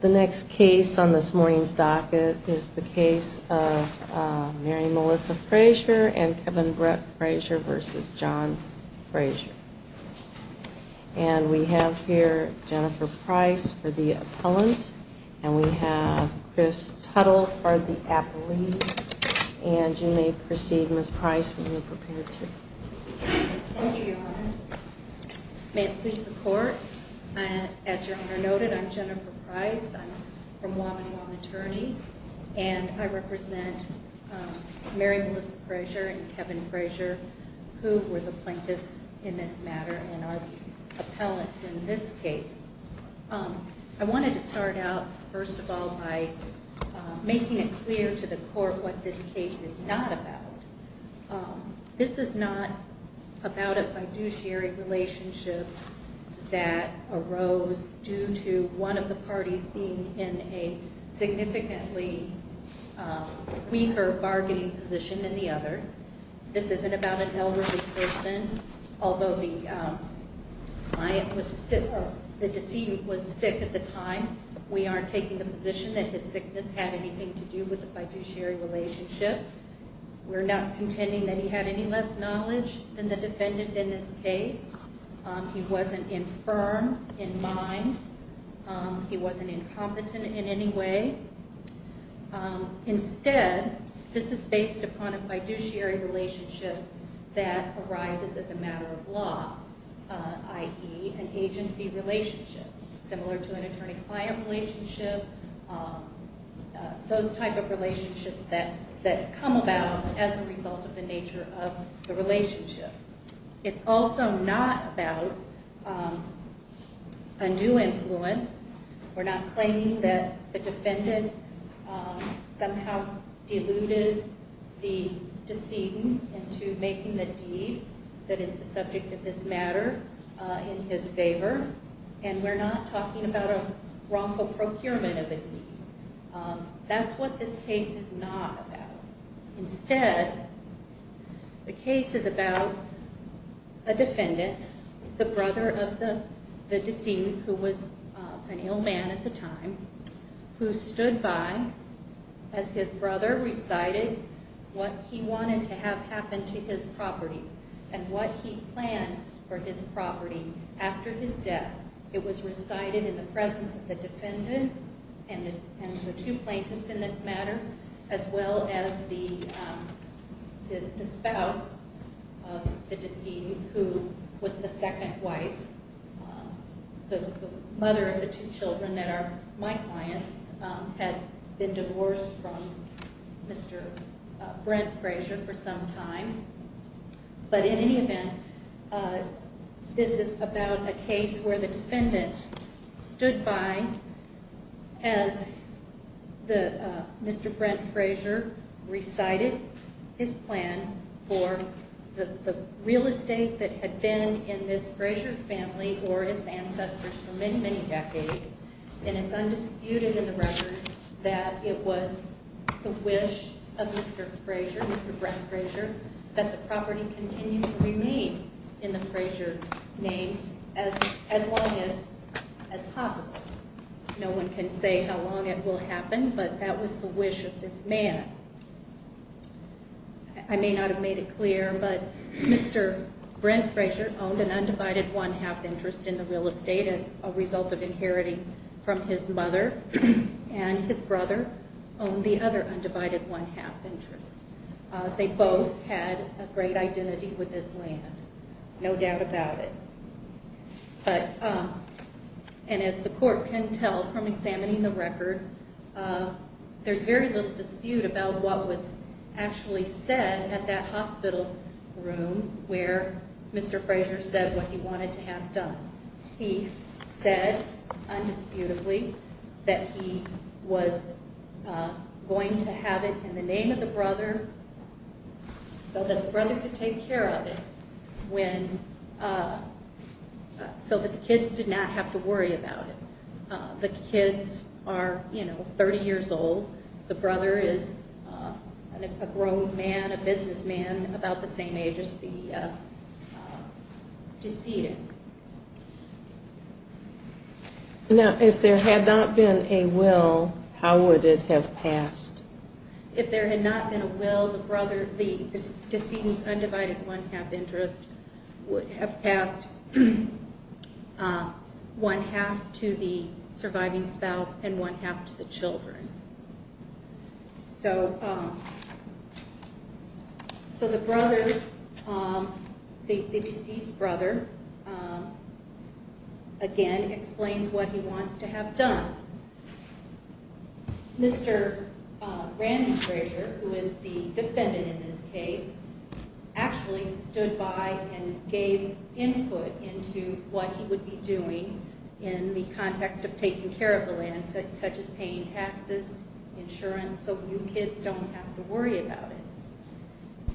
The next case on this morning's docket is the case of Mary Melissa Frazier and Kevin Brett Frazier v. John Frazier. And we have here Jennifer Price for the appellant, and we have Chris Tuttle for the appellee. And you may proceed, Ms. Price, when you're prepared to. Thank you, Your Honor. May it please the Court, as Your Honor noted, I'm Jennifer Price. I'm from Guam and Guam Attorneys, and I represent Mary Melissa Frazier and Kevin Frazier, who were the plaintiffs in this matter and are the appellants in this case. I wanted to start out, first of all, by making it clear to the Court what this case is not about. This is not about a fiduciary relationship that arose due to one of the parties being in a significantly weaker bargaining position than the other. This isn't about an elderly person. Although the client was sick, or the deceived was sick at the time, we aren't taking the position that his sickness had anything to do with the fiduciary relationship. We're not contending that he had any less knowledge than the defendant in this case. He wasn't infirm in mind. He wasn't incompetent in any way. Instead, this is based upon a fiduciary relationship that arises as a matter of law, i.e., an agency relationship, similar to an attorney-client relationship, those type of relationships that come about as a result of the nature of the relationship. It's also not about a new influence. We're not claiming that the defendant somehow deluded the decedent into making the deed that is the subject of this matter in his favor. And we're not talking about a wrongful procurement of a deed. That's what this case is not about. Instead, the case is about a defendant, the brother of the decedent, who was an ill man at the time, who stood by as his brother recited what he wanted to have happen to his property and what he planned for his property after his death. It was recited in the presence of the defendant and the two plaintiffs in this matter, as well as the spouse of the decedent, who was the second wife. The mother of the two children that are my clients had been divorced from Mr. Brent Frazier for some time. But in any event, this is about a case where the defendant stood by as Mr. Brent Frazier recited his plan for the real estate that had been in this Frazier family or its ancestors for many, many decades. And it's undisputed in the record that it was the wish of Mr. Frazier, Mr. Brent Frazier, that the property continue to remain in the Frazier name as long as possible. No one can say how long it will happen, but that was the wish of this man. I may not have made it clear, but Mr. Brent Frazier owned an undivided one-half interest in the real estate as a result of inheriting from his mother, and his brother owned the other undivided one-half interest. They both had a great identity with this land, no doubt about it. And as the court can tell from examining the record, there's very little dispute about what was actually said at that hospital room where Mr. Frazier said what he wanted to have done. He said, undisputedly, that he was going to have it in the name of the brother so that the brother could take care of it so that the kids did not have to worry about it. The kids are, you know, 30 years old. The brother is a grown man, a businessman about the same age as the decedent. Now, if there had not been a will, how would it have passed? If there had not been a will, the brother, the decedent's undivided one-half interest would have passed one-half to the surviving spouse and one-half to the children. So the brother, the deceased brother, again, explains what he wants to have done. Mr. Randy Frazier, who is the defendant in this case, actually stood by and gave input into what he would be doing in the context of taking care of the land, such as paying taxes, insurance, so you kids don't have to worry about it.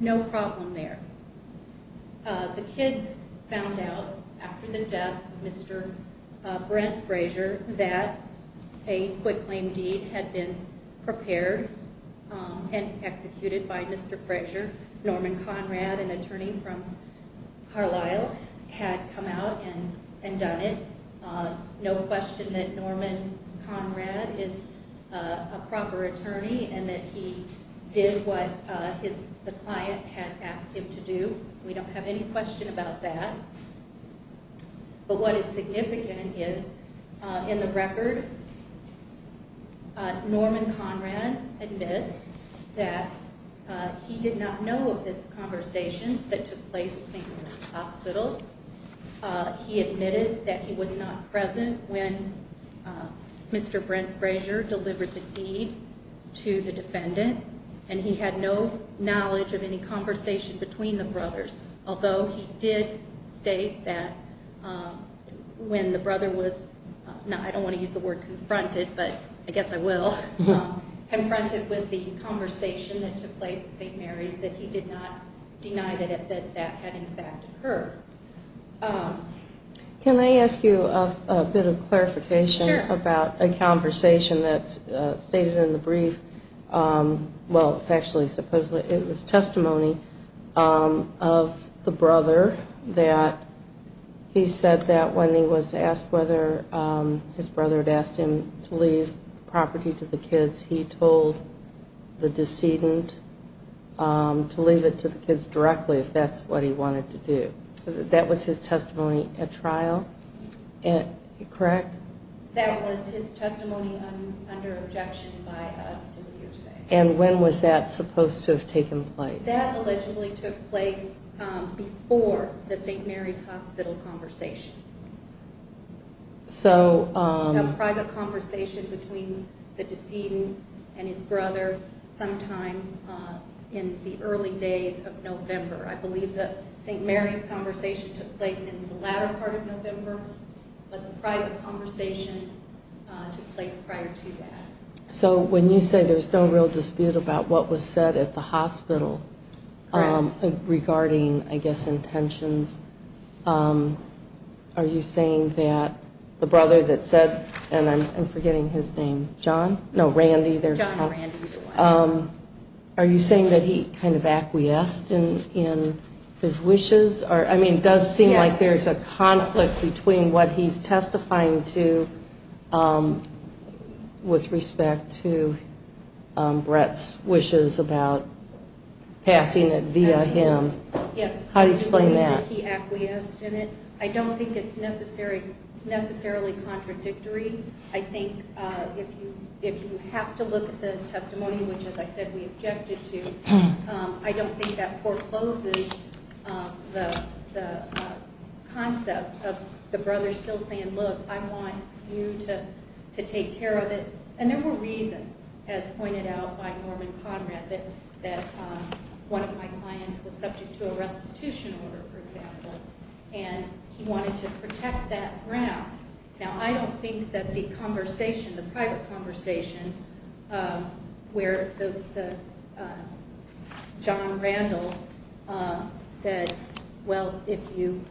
No problem there. The kids found out after the death of Mr. Brent Frazier that a quitclaim deed had been prepared and executed by Mr. Frazier. Norman Conrad, an attorney from Carlisle, had come out and done it. No question that Norman Conrad is a proper attorney and that he did what the client had asked him to do. We don't have any question about that. But what is significant is, in the record, Norman Conrad admits that he did not know of this conversation that took place at St. Lawrence Hospital. He admitted that he was not present when Mr. Brent Frazier delivered the deed to the defendant, and he had no knowledge of any conversation between the brothers, although he did state that when the brother was, I don't want to use the word confronted, but I guess I will, confronted with the conversation that took place at St. Mary's, that he did not deny that that had, in fact, occurred. Can I ask you a bit of clarification about a conversation that's stated in the brief? Well, it's actually supposedly, it was testimony of the brother that he said that when he was asked whether his brother had asked him to leave property to the kids, he told the decedent to leave it to the kids directly, if that's what he wanted to do. That was his testimony at trial, correct? That was his testimony under objection by us to leave safe. And when was that supposed to have taken place? That allegedly took place before the St. Mary's Hospital conversation. So... A private conversation between the decedent and his brother sometime in the early days of November. I believe that St. Mary's conversation took place in the latter part of November, but the private conversation took place prior to that. So when you say there's no real dispute about what was said at the hospital regarding, I guess, intentions, are you saying that the brother that said, and I'm forgetting his name, John? No, Randy. John Randy. Are you saying that he kind of acquiesced in his wishes? I mean, it does seem like there's a conflict between what he's testifying to with respect to Brett's wishes about passing it via him. Yes. How do you explain that? He acquiesced in it. I don't think it's necessarily contradictory. I think if you have to look at the testimony, which, as I said, we objected to, I don't think that forecloses the concept of the brother still saying, look, I want you to take care of it. And there were reasons, as pointed out by Norman Conrad, that one of my clients was subject to a restitution order, for example, and he wanted to protect that ground. Now, I don't think that the conversation, the private conversation where John Randall said, well, if you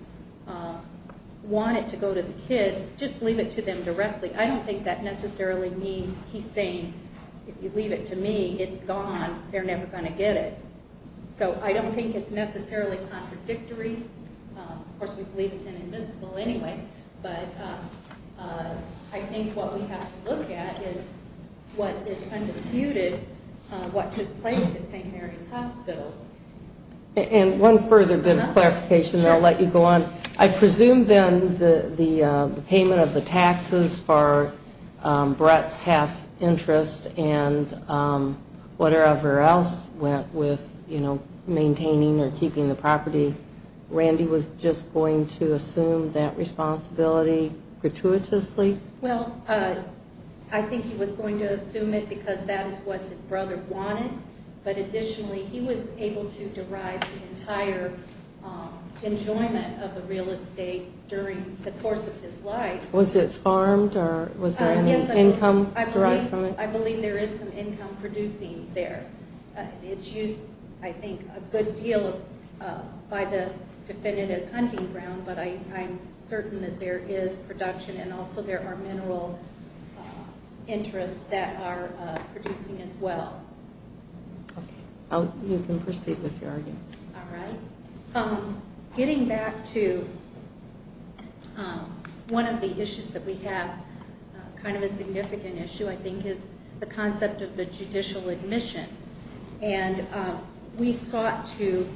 want it to go to the kids, just leave it to them directly. I don't think that necessarily means he's saying, if you leave it to me, it's gone, they're never going to get it. So I don't think it's necessarily contradictory. Of course, we believe it's inadmissible anyway. But I think what we have to look at is what is undisputed, what took place at St. Mary's Hospital. And one further bit of clarification, and I'll let you go on. I presume then the payment of the taxes for Brett's half interest and whatever else went with maintaining or keeping the property, Randy was just going to assume that responsibility gratuitously? Well, I think he was going to assume it because that is what his brother wanted. But additionally, he was able to derive the entire enjoyment of a real estate during the course of his life. Was it farmed or was there any income derived from it? I believe there is some income producing there. It's used, I think, a good deal by the defendant as hunting ground, but I'm certain that there is production and also there are mineral interests that are producing as well. You can proceed with your argument. All right. Getting back to one of the issues that we have, kind of a significant issue, I think, is the concept of the judicial admission. And we sought to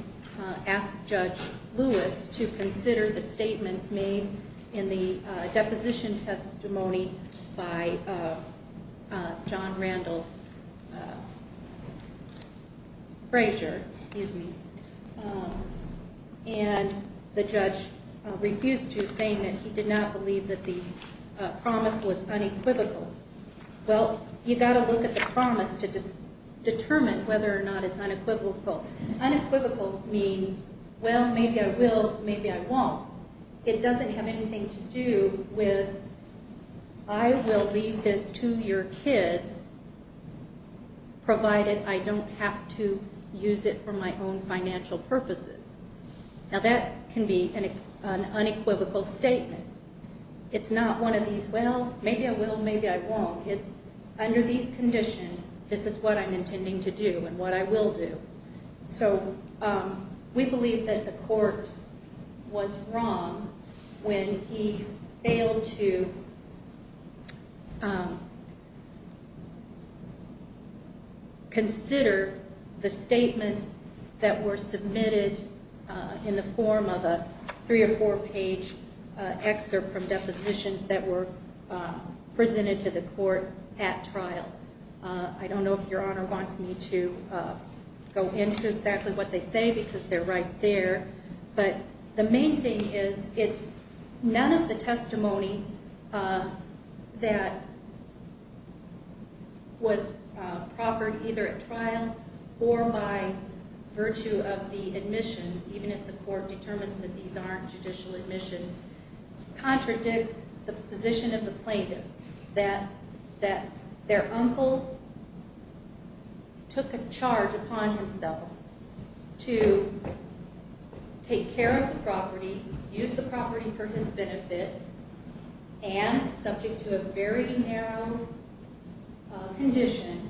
ask Judge Lewis to consider the statements made in the deposition testimony by John Randall Frazier. And the judge refused to, saying that he did not believe that the promise was unequivocal. Well, you've got to look at the promise to determine whether or not it's unequivocal. Unequivocal means, well, maybe I will, maybe I won't. It doesn't have anything to do with I will leave this to your kids provided I don't have to use it for my own financial purposes. Now, that can be an unequivocal statement. It's not one of these, well, maybe I will, maybe I won't. It's under these conditions, this is what I'm intending to do and what I will do. So we believe that the court was wrong when he failed to consider the statements that were submitted in the form of a three- or four-page excerpt from depositions that were presented to the court at trial. I don't know if Your Honor wants me to go into exactly what they say because they're right there. But the main thing is it's none of the testimony that was proffered either at trial or by virtue of the admissions, even if the court determines that these aren't judicial admissions, contradicts the position of the plaintiffs that their uncle took a charge upon himself to take care of the property, use the property for his benefit, and subject to a very narrow condition,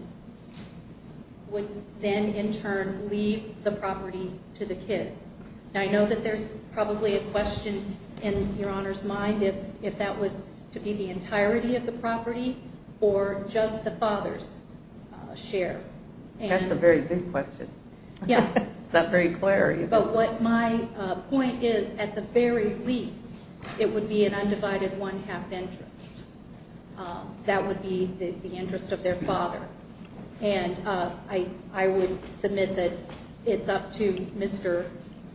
would then in turn leave the property to the kids. Now, I know that there's probably a question in Your Honor's mind if that was to be the entirety of the property or just the father's share. That's a very big question. It's not very clear. But my point is at the very least it would be an undivided one-half interest. That would be the interest of their father. And I would submit that it's up to Mr.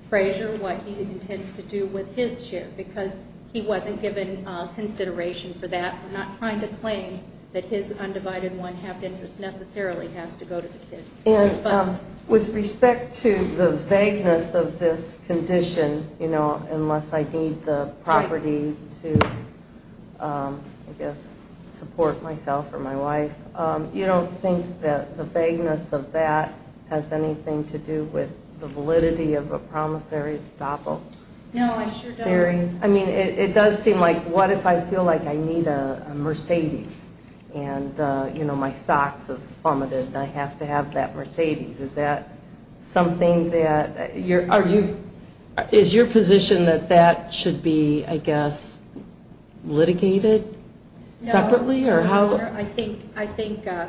Frazier what he intends to do with his share because he wasn't given consideration for that. We're not trying to claim that his undivided one-half interest necessarily has to go to the kids. With respect to the vagueness of this condition, you know, unless I need the property to, I guess, support myself or my wife, you don't think that the vagueness of that has anything to do with the validity of a promissory estoppel? No, I sure don't. Barry? I mean, it does seem like what if I feel like I need a Mercedes and, you know, my stocks have plummeted and I have to have that Mercedes. Is that something that you're, are you, is your position that that should be, I guess, litigated separately or how? No, Your Honor.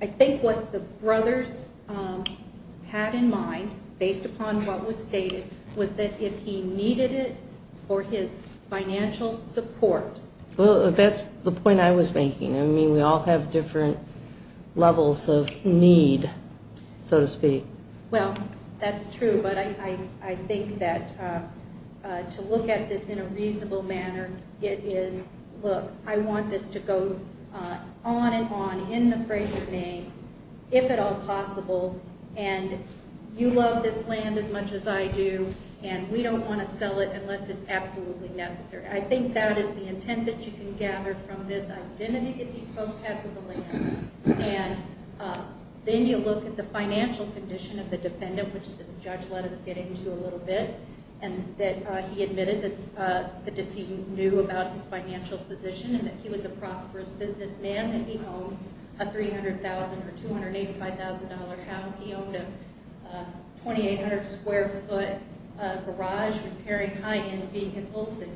I think what the brothers had in mind based upon what was stated was that if he needed it for his financial support. Well, that's the point I was making. I mean, we all have different levels of need, so to speak. Well, that's true, but I think that to look at this in a reasonable manner, it is, look, I want this to go on and on in the Frazier name, if at all possible, and you love this land as much as I do, and we don't want to sell it unless it's absolutely necessary. I think that is the intent that you can gather from this identity that these folks had for the land. And then you look at the financial condition of the defendant, which the judge let us get into a little bit, and that he admitted that the decedent knew about his financial position and that he was a prosperous businessman and he owned a $300,000 or $285,000 house. He owned a 2,800-square-foot garage in Perry, High End, being compulsive.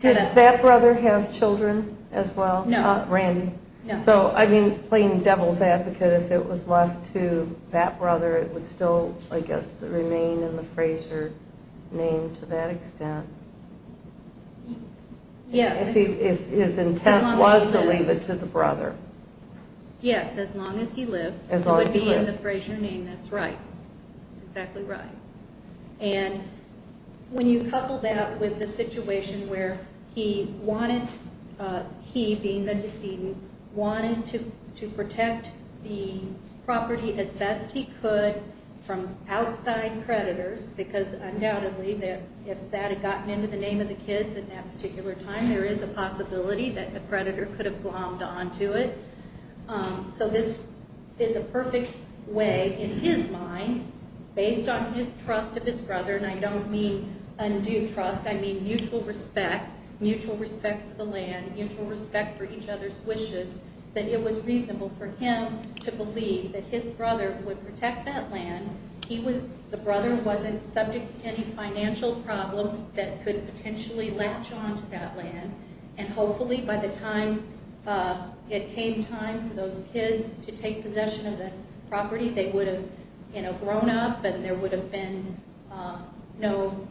Did that brother have children as well? No. Randy? No. So, I mean, plain devil's advocate, if it was left to that brother, it would still, I guess, remain in the Frazier name to that extent. Yes. If his intent was to leave it to the brother. Yes, as long as he lived, it would be in the Frazier name. That's right. That's exactly right. And when you couple that with the situation where he wanted, he being the decedent, wanted to protect the property as best he could from outside creditors, because undoubtedly if that had gotten into the name of the kids at that particular time, there is a possibility that the creditor could have glommed onto it. So this is a perfect way, in his mind, based on his trust of his brother, and I don't mean undue trust, I mean mutual respect, mutual respect for the land, mutual respect for each other's wishes, that it was reasonable for him to believe that his brother would protect that land. The brother wasn't subject to any financial problems that could potentially latch onto that land, and hopefully by the time it came time for those kids to take possession of the property, they would have grown up and there would have been no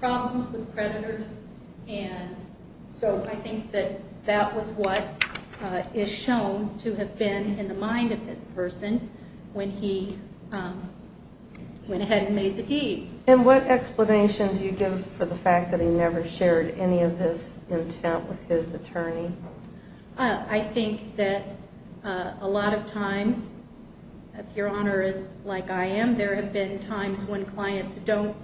problems with creditors. So I think that that was what is shown to have been in the mind of this person when he went ahead and made the deed. And what explanation do you give for the fact that he never shared any of this intent with his attorney? I think that a lot of times, if Your Honor is like I am, there have been times when clients don't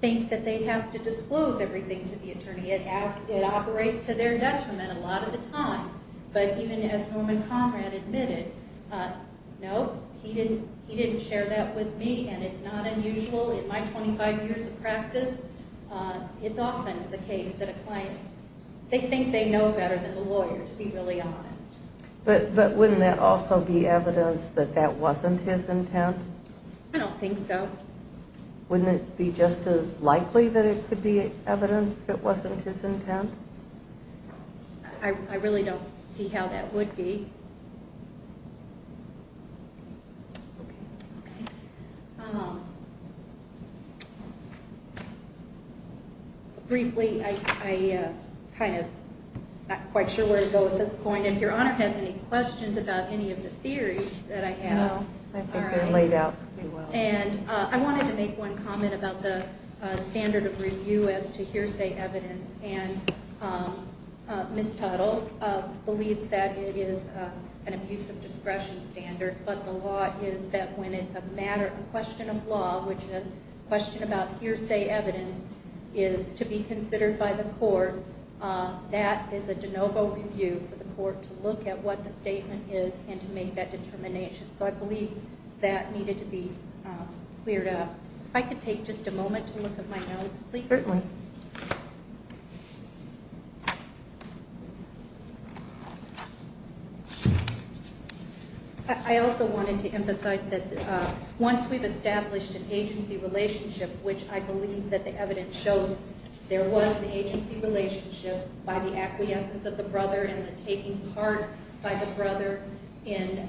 think that they have to disclose everything to the attorney. It operates to their detriment a lot of the time. But even as Norman Conrad admitted, no, he didn't share that with me, and it's not unusual in my 25 years of practice. It's often the case that a client, they think they know better than the lawyer, to be really honest. But wouldn't that also be evidence that that wasn't his intent? I don't think so. Wouldn't it be just as likely that it could be evidence if it wasn't his intent? I really don't see how that would be. Briefly, I'm not quite sure where to go with this point. If Your Honor has any questions about any of the theories that I have. No, I think they're laid out pretty well. And I wanted to make one comment about the standard of review as to hearsay evidence. And Ms. Tuttle believes that it is an abuse of discretion standard, but the law is that when it's a matter of question of law, which a question about hearsay evidence is to be considered by the court, that is a de novo review for the court to look at what the statement is and to make that determination. So I believe that needed to be cleared up. If I could take just a moment to look at my notes, please. Certainly. I also wanted to emphasize that once we've established an agency relationship, which I believe that the evidence shows there was an agency relationship by the acquiescence of the brother and the taking part by the brother in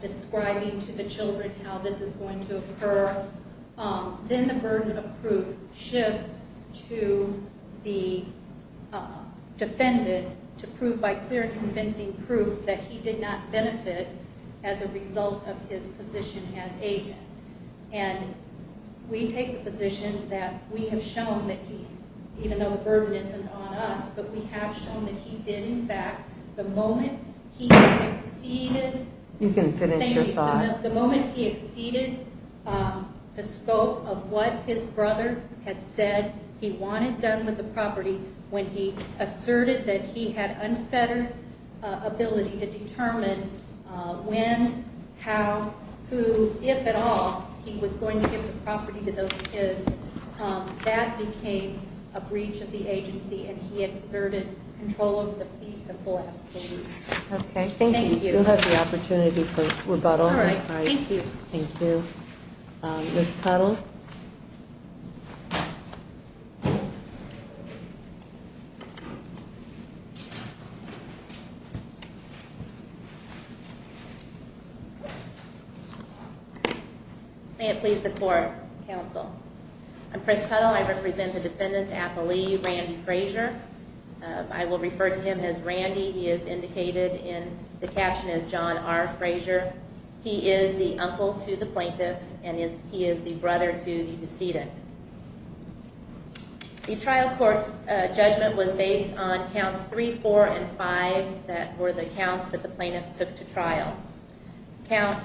describing to the children how this is going to occur, then the burden of proof shifts to the defendant to prove by clear and convincing proof that he did not benefit as a result of his position as agent. And we take the position that we have shown that he, even though the burden isn't on us, but we have shown that he did, in fact, the moment he exceeded the scope of what his brother had said he wanted done with the property when he asserted that he had unfettered ability to determine when, how, who, if at all, he was going to give the property to those kids, that became a breach of the agency and he exerted control of the piece of full absolute. Okay. Thank you. Thank you. You'll have the opportunity for rebuttal. All right. Thank you. Thank you. Ms. Tuttle. May it please the court, counsel. I'm Chris Tuttle. I represent the defendant's appellee, Randy Frazier. I will refer to him as Randy. He is indicated in the caption as John R. Frazier. He is the uncle to the plaintiffs and he is the brother to the decedent. The trial court's judgment was based on counts three, four, and five that were the counts that the plaintiffs took to trial. Count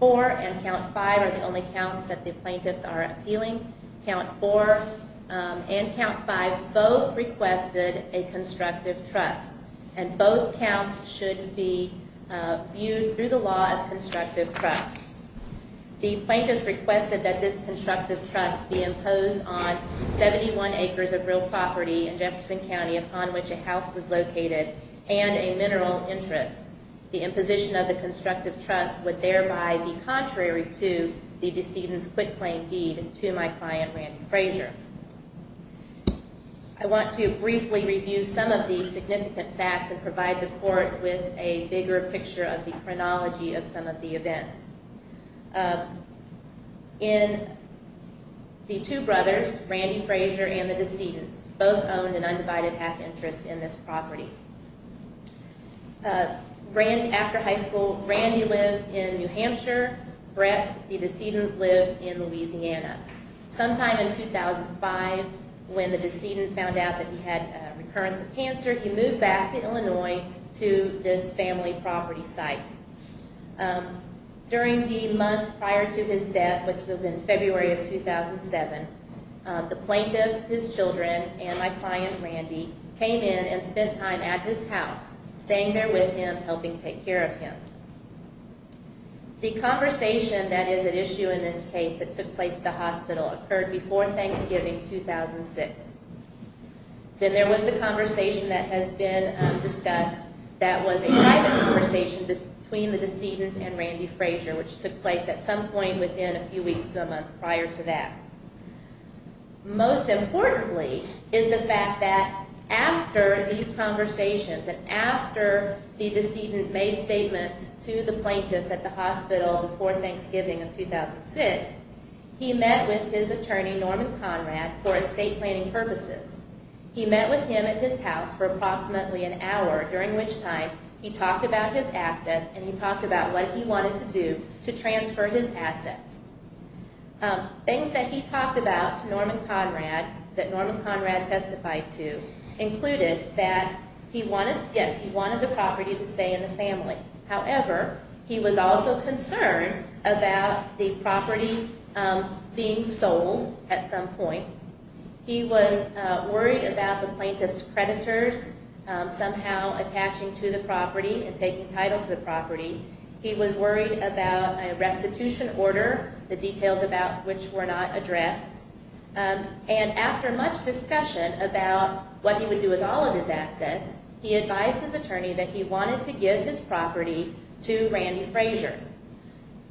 four and count five are the only counts that the plaintiffs are appealing. Count four and count five both requested a constructive trust, and both counts should be viewed through the law of constructive trust. The plaintiffs requested that this constructive trust be imposed on 71 acres of real property in Jefferson County upon which a house was located and a mineral interest. The imposition of the constructive trust would thereby be contrary to the decedent's quitclaim deed to my client, Randy Frazier. I want to briefly review some of the significant facts and provide the court with a bigger picture of the chronology of some of the events. In the two brothers, Randy Frazier and the decedent, both owned an undivided half interest in this property. After high school, Randy lived in New Hampshire. Brett, the decedent, lived in Louisiana. Sometime in 2005, when the decedent found out that he had a recurrence of cancer, he moved back to Illinois to this family property site. During the months prior to his death, which was in February of 2007, the plaintiffs, his children, and my client, Randy, came in and spent time at his house, staying there with him, helping take care of him. The conversation that is at issue in this case that took place at the hospital occurred before Thanksgiving 2006. Then there was the conversation that has been discussed that was a private conversation between the decedent and Randy Frazier, which took place at some point within a few weeks to a month prior to that. Most importantly is the fact that after these conversations, and after the decedent made statements to the plaintiffs at the hospital before Thanksgiving of 2006, he met with his attorney, Norman Conrad, for estate planning purposes. He met with him at his house for approximately an hour, during which time he talked about his assets and he talked about what he wanted to do to transfer his assets. Things that he talked about to Norman Conrad, that Norman Conrad testified to, included that, yes, he wanted the property to stay in the family. However, he was also concerned about the property being sold at some point. He was worried about the plaintiff's creditors somehow attaching to the property and taking title to the property. He was worried about a restitution order, the details about which were not addressed. And after much discussion about what he would do with all of his assets, he advised his attorney that he wanted to give his property to Randy Frazier.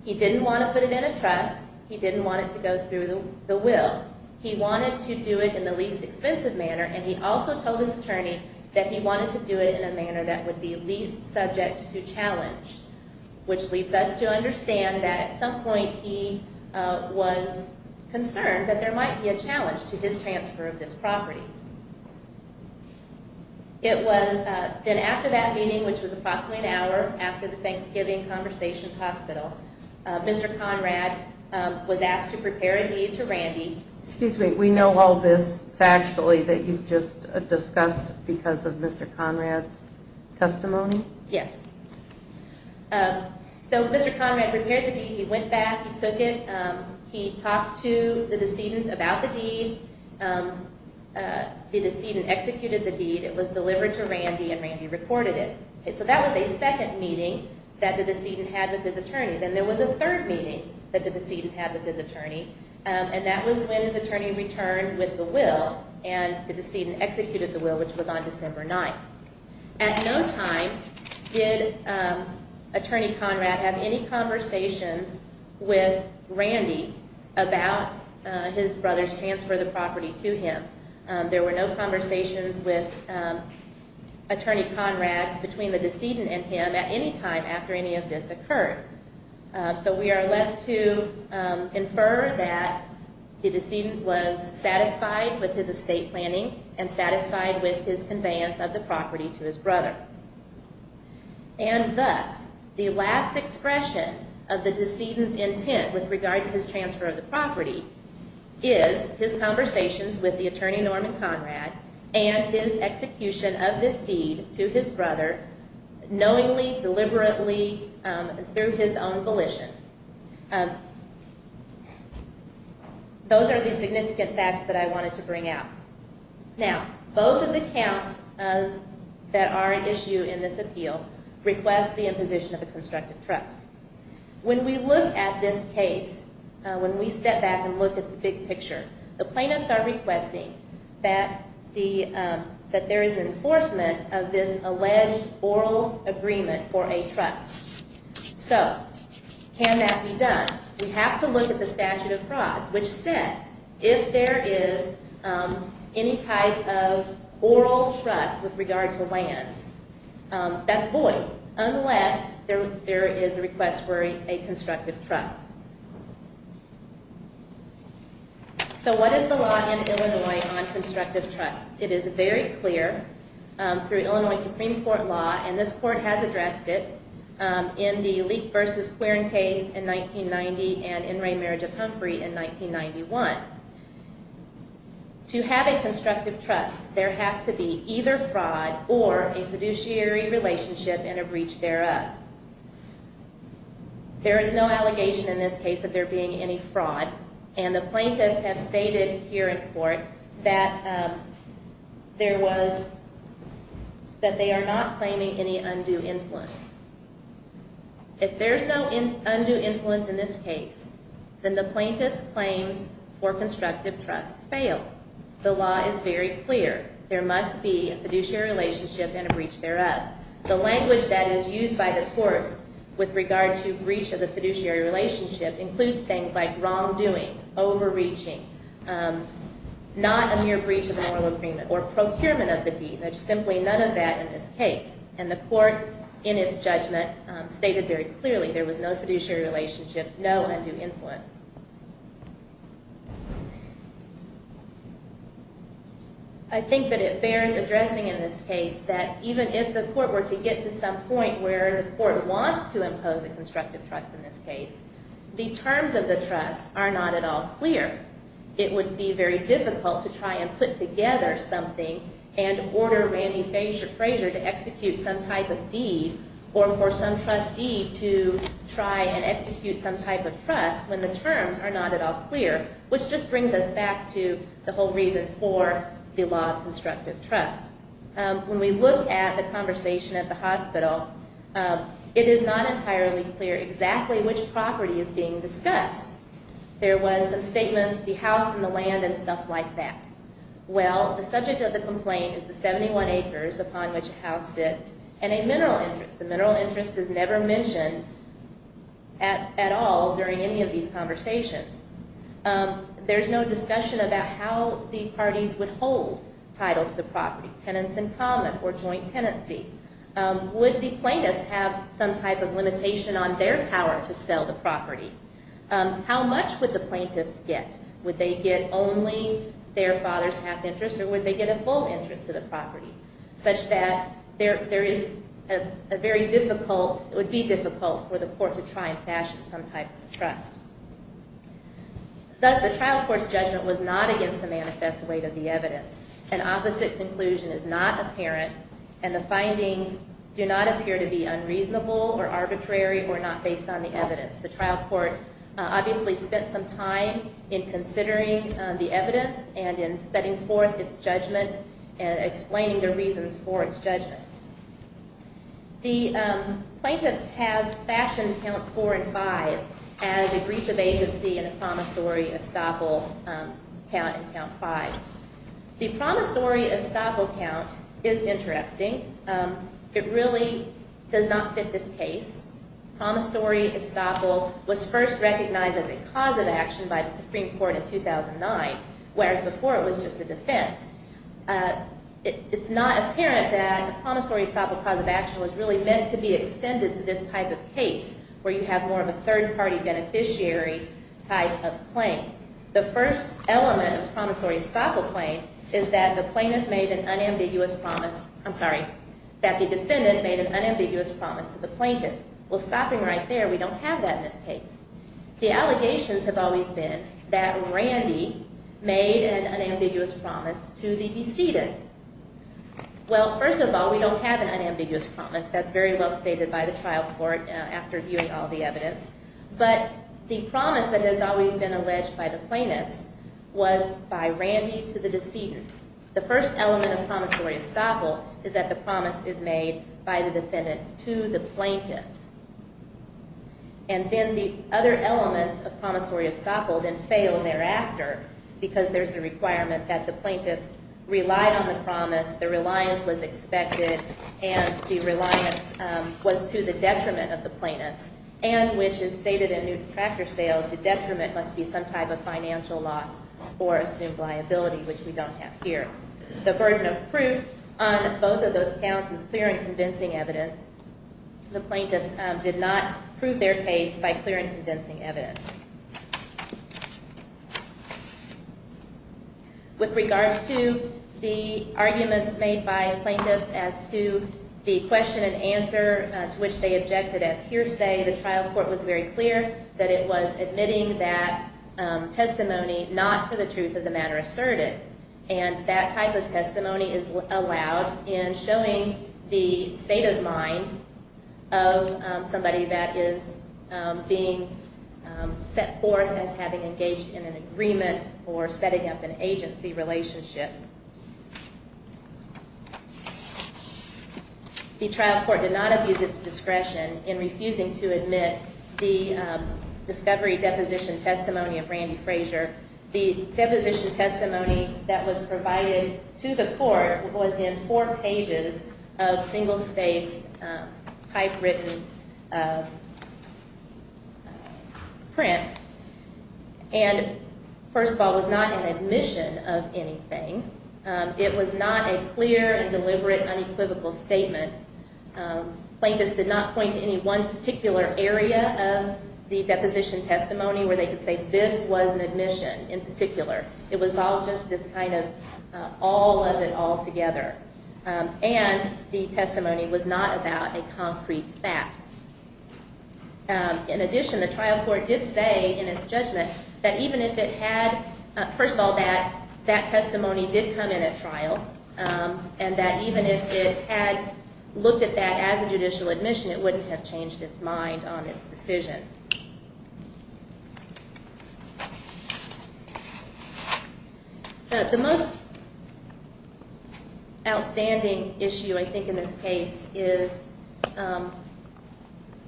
He didn't want to put it in a trust. He didn't want it to go through the will. He wanted to do it in the least expensive manner, and he also told his attorney that he wanted to do it in a manner that would be least subject to challenge, which leads us to understand that, at some point, he was concerned that there might be a challenge to his transfer of this property. It was then after that meeting, which was approximately an hour after the Thanksgiving Conversation Hospital, Mr. Conrad was asked to prepare a deed to Randy. Excuse me, we know all this factually that you've just discussed because of Mr. Conrad's testimony? Yes. So Mr. Conrad prepared the deed. He went back. He took it. He talked to the decedent about the deed. The decedent executed the deed. It was delivered to Randy, and Randy reported it. So that was a second meeting that the decedent had with his attorney. Then there was a third meeting that the decedent had with his attorney, and that was when his attorney returned with the will, and the decedent executed the will, which was on December 9th. At no time did Attorney Conrad have any conversations with Randy about his brother's transfer of the property to him. There were no conversations with Attorney Conrad between the decedent and him at any time after any of this occurred. So we are left to infer that the decedent was satisfied with his estate planning and satisfied with his conveyance of the property to his brother. And thus, the last expression of the decedent's intent with regard to his transfer of the property is his conversations with the attorney, Norman Conrad, and his execution of this deed to his brother knowingly, deliberately, through his own volition. Those are the significant facts that I wanted to bring out. Now, both of the counts that are at issue in this appeal request the imposition of a constructive trust. When we look at this case, when we step back and look at the big picture, the plaintiffs are requesting that there is enforcement of this alleged oral agreement for a trust. So, can that be done? We have to look at the statute of frauds, which says if there is any type of oral trust with regard to lands, that's void, unless there is a request for a constructive trust. So what is the law in Illinois on constructive trust? It is very clear through Illinois Supreme Court law, and this court has addressed it, in the Leek v. Quirin case in 1990 and in Ray Marriage of Humphrey in 1991. To have a constructive trust, there has to be either fraud or a fiduciary relationship and a breach thereof. There is no allegation in this case of there being any fraud, and the plaintiffs have stated here in court that they are not claiming any undue influence. If there is no undue influence in this case, then the plaintiff's claims for constructive trust fail. The law is very clear. There must be a fiduciary relationship and a breach thereof. The language that is used by the courts with regard to breach of the fiduciary relationship includes things like wrongdoing, overreaching, not a mere breach of an oral agreement, or procurement of the deed. There's simply none of that in this case. And the court, in its judgment, stated very clearly there was no fiduciary relationship, no undue influence. I think that it bears addressing in this case that even if the court were to get to some point where the court wants to impose a constructive trust in this case, the terms of the trust are not at all clear. It would be very difficult to try and put together something and order Randy Frazier to execute some type of deed or for some trustee to try and execute some type of trust when the terms are not at all clear, which just brings us back to the whole reason for the law of constructive trust. When we look at the conversation at the hospital, it is not entirely clear exactly which property is being discussed. There was some statements, the house and the land and stuff like that. Well, the subject of the complaint is the 71 acres upon which the house sits and a mineral interest. The mineral interest is never mentioned at all during any of these conversations. There's no discussion about how the parties would hold title to the property, tenants in common or joint tenancy. Would the plaintiffs have some type of limitation on their power to sell the property? How much would the plaintiffs get? Would they get only their father's half interest or would they get a full interest to the property such that there is a very difficult, it would be difficult for the court to try and fashion some type of trust. Thus, the trial court's judgment was not against the manifest weight of the evidence. An opposite conclusion is not apparent and the findings do not appear to be unreasonable or arbitrary or not based on the evidence. The trial court obviously spent some time in considering the evidence and in setting forth its judgment The plaintiffs have fashioned counts four and five as a breach of agency and a promissory estoppel count in count five. The promissory estoppel count is interesting. It really does not fit this case. Promissory estoppel was first recognized as a cause of action by the Supreme Court in 2009, whereas before it was just a defense. It's not apparent that promissory estoppel cause of action was really meant to be extended to this type of case where you have more of a third-party beneficiary type of claim. The first element of promissory estoppel claim is that the plaintiff made an unambiguous promise, I'm sorry, that the defendant made an unambiguous promise to the plaintiff. Well, stopping right there, we don't have that in this case. The allegations have always been that Randy made an unambiguous promise to the decedent. Well, first of all, we don't have an unambiguous promise. That's very well stated by the trial court after viewing all the evidence. But the promise that has always been alleged by the plaintiffs was by Randy to the decedent. The first element of promissory estoppel is that the promise is made by the defendant to the plaintiffs. And then the other elements of promissory estoppel then fail thereafter because there's a requirement that the plaintiffs relied on the promise, the reliance was expected, and the reliance was to the detriment of the plaintiffs, and which is stated in Newton Tractor Sales, the detriment must be some type of financial loss or assumed liability, which we don't have here. The burden of proof on both of those counts is clear and convincing evidence. The plaintiffs did not prove their case by clear and convincing evidence. With regards to the arguments made by plaintiffs as to the question and answer to which they objected as hearsay, the trial court was very clear that it was admitting that testimony not for the truth of the matter asserted. And that type of testimony is allowed in showing the state of mind of somebody that is being set forth as having engaged in an agreement or setting up an agency relationship. The trial court did not abuse its discretion in refusing to admit the discovery deposition testimony of Randy Frazier. The deposition testimony that was provided to the court was in four pages of single-spaced typewritten print, and first of all, was not an admission of anything. It was not a clear and deliberate unequivocal statement. Plaintiffs did not point to any one particular area of the deposition testimony where they could say this was an admission in particular. It was all just this kind of all of it all together. And the testimony was not about a concrete fact. In addition, the trial court did say in its judgment that even if it had, first of all, that that testimony did come in at trial, and that even if it had looked at that as a judicial admission, it wouldn't have changed its mind on its decision. The most outstanding issue, I think, in this case is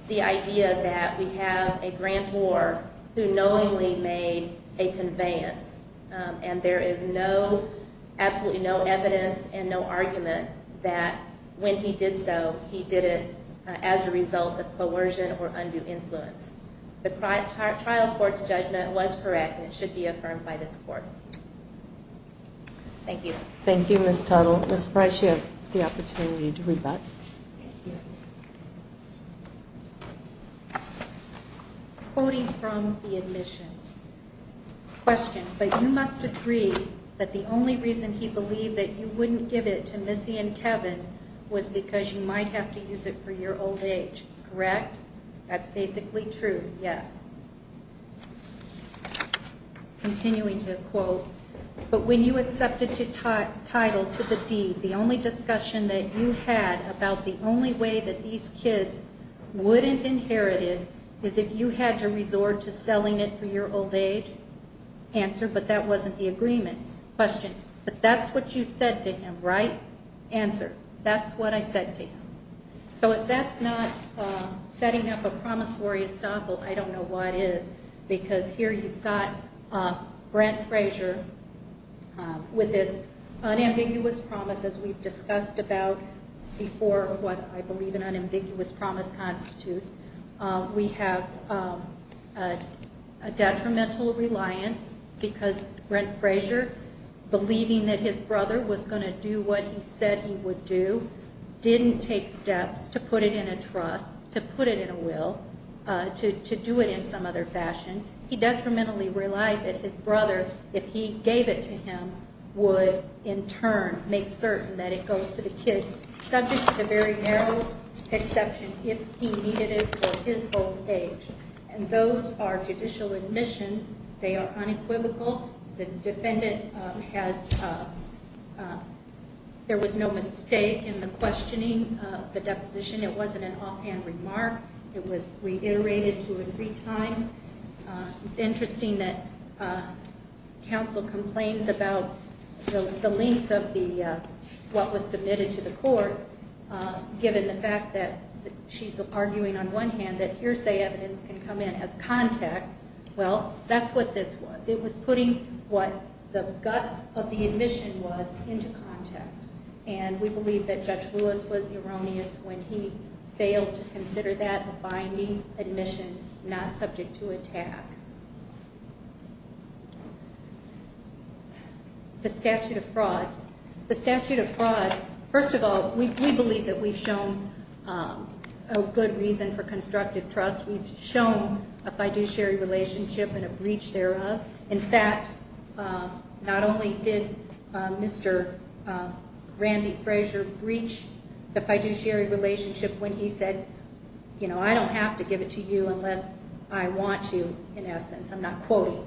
the idea that we have a grantor who knowingly made a conveyance, and there is absolutely no evidence and no argument that when he did so, he did it as a result of coercion or undue influence. The trial court's judgment was correct, and it should be affirmed by this court. Thank you. Thank you, Ms. Tuttle. Ms. Frazier, you have the opportunity to rebut. Thank you. Quoting from the admission. Question. But you must agree that the only reason he believed that you wouldn't give it to Missy and Kevin was because you might have to use it for your old age, correct? That's basically true, yes. Continuing to quote. But when you accepted to title to the deed, the only discussion that you had about the only way that these kids wouldn't inherit it is if you had to resort to selling it for your old age? Answer. But that wasn't the agreement. Question. But that's what you said to him, right? Answer. That's what I said to him. So if that's not setting up a promissory estoppel, I don't know what is, because here you've got Brent Frazier with this unambiguous promise, as we've discussed about before what I believe an unambiguous promise constitutes. We have a detrimental reliance because Brent Frazier, believing that his brother was going to do what he said he would do, didn't take steps to put it in a trust, to put it in a will, to do it in some other fashion. He detrimentally relied that his brother, if he gave it to him, would in turn make certain that it goes to the kids, subject to the very narrow exception, if he needed it for his old age. And those are judicial admissions. They are unequivocal. The defendant has, there was no mistake in the questioning of the deposition. It wasn't an offhand remark. It was reiterated two or three times. It's interesting that counsel complains about the length of what was submitted to the court, given the fact that she's arguing on one hand that hearsay evidence can come in as context. Well, that's what this was. It was putting what the guts of the admission was into context. And we believe that Judge Lewis was erroneous when he failed to consider that a binding admission, not subject to attack. The statute of frauds. The statute of frauds, first of all, we believe that we've shown a good reason for constructive trust. We've shown a fiduciary relationship and a breach thereof. In fact, not only did Mr. Randy Frazier breach the fiduciary relationship when he said, you know, I don't have to give it to you unless I want to, in essence. I'm not quoting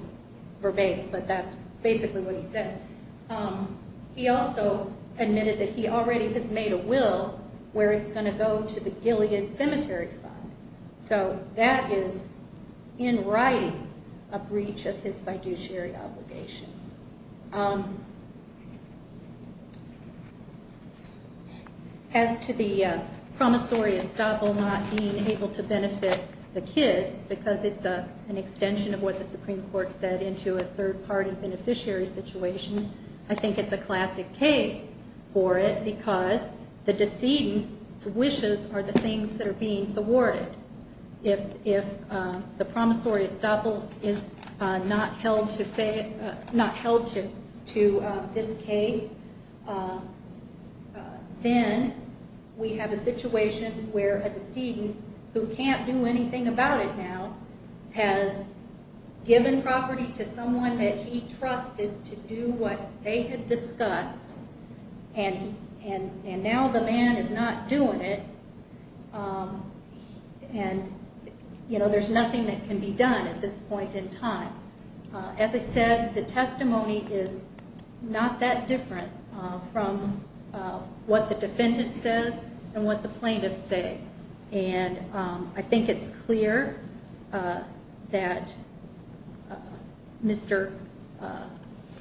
verbatim, but that's basically what he said. He also admitted that he already has made a will where it's going to go to the Gilead Cemetery Fund. So that is, in writing, a breach of his fiduciary obligation. As to the promissory estoppel not being able to benefit the kids, because it's an extension of what the Supreme Court said into a third-party beneficiary situation, I think it's a classic case for it because the decedent's wishes are the things that are being awarded. If the promissory estoppel is not held to this case, then we have a situation where a decedent who can't do anything about it now has given property to someone that he trusted to do what they had discussed, and now the man is not doing it, and, you know, there's nothing that can be done at this point in time. As I said, the testimony is not that different from what the defendant says and what the plaintiffs say. And I think it's clear that Mr.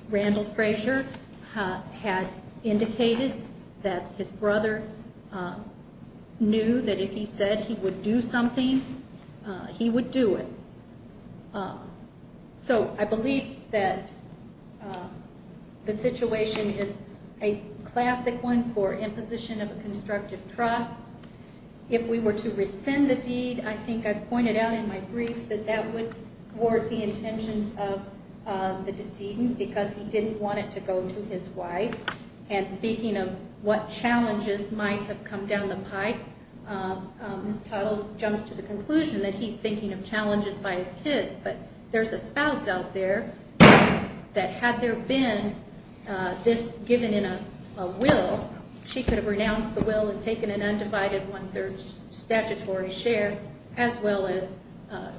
Randall Frazier had indicated that his brother knew that if he said he would do something, he would do it. So I believe that the situation is a classic one for imposition of a constructive trust. If we were to rescind the deed, I think I've pointed out in my brief that that would thwart the intentions of the decedent because he didn't want it to go to his wife. And speaking of what challenges might have come down the pike, Ms. Tuttle jumps to the conclusion that he's thinking of challenges by his kids, but there's a spouse out there that had there been this given in a will, she could have renounced the will and taken an undivided one-third statutory share, as well as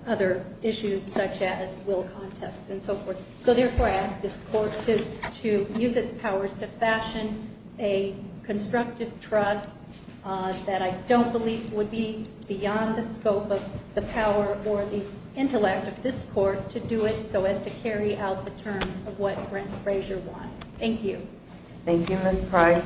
other issues such as will contests and so forth. So, therefore, I ask this Court to use its powers to fashion a constructive trust that I don't believe would be beyond the scope of the power or the intellect of this Court to do it so as to carry out the terms of what Brent Frazier won. Thank you. Thank you, Ms. Price.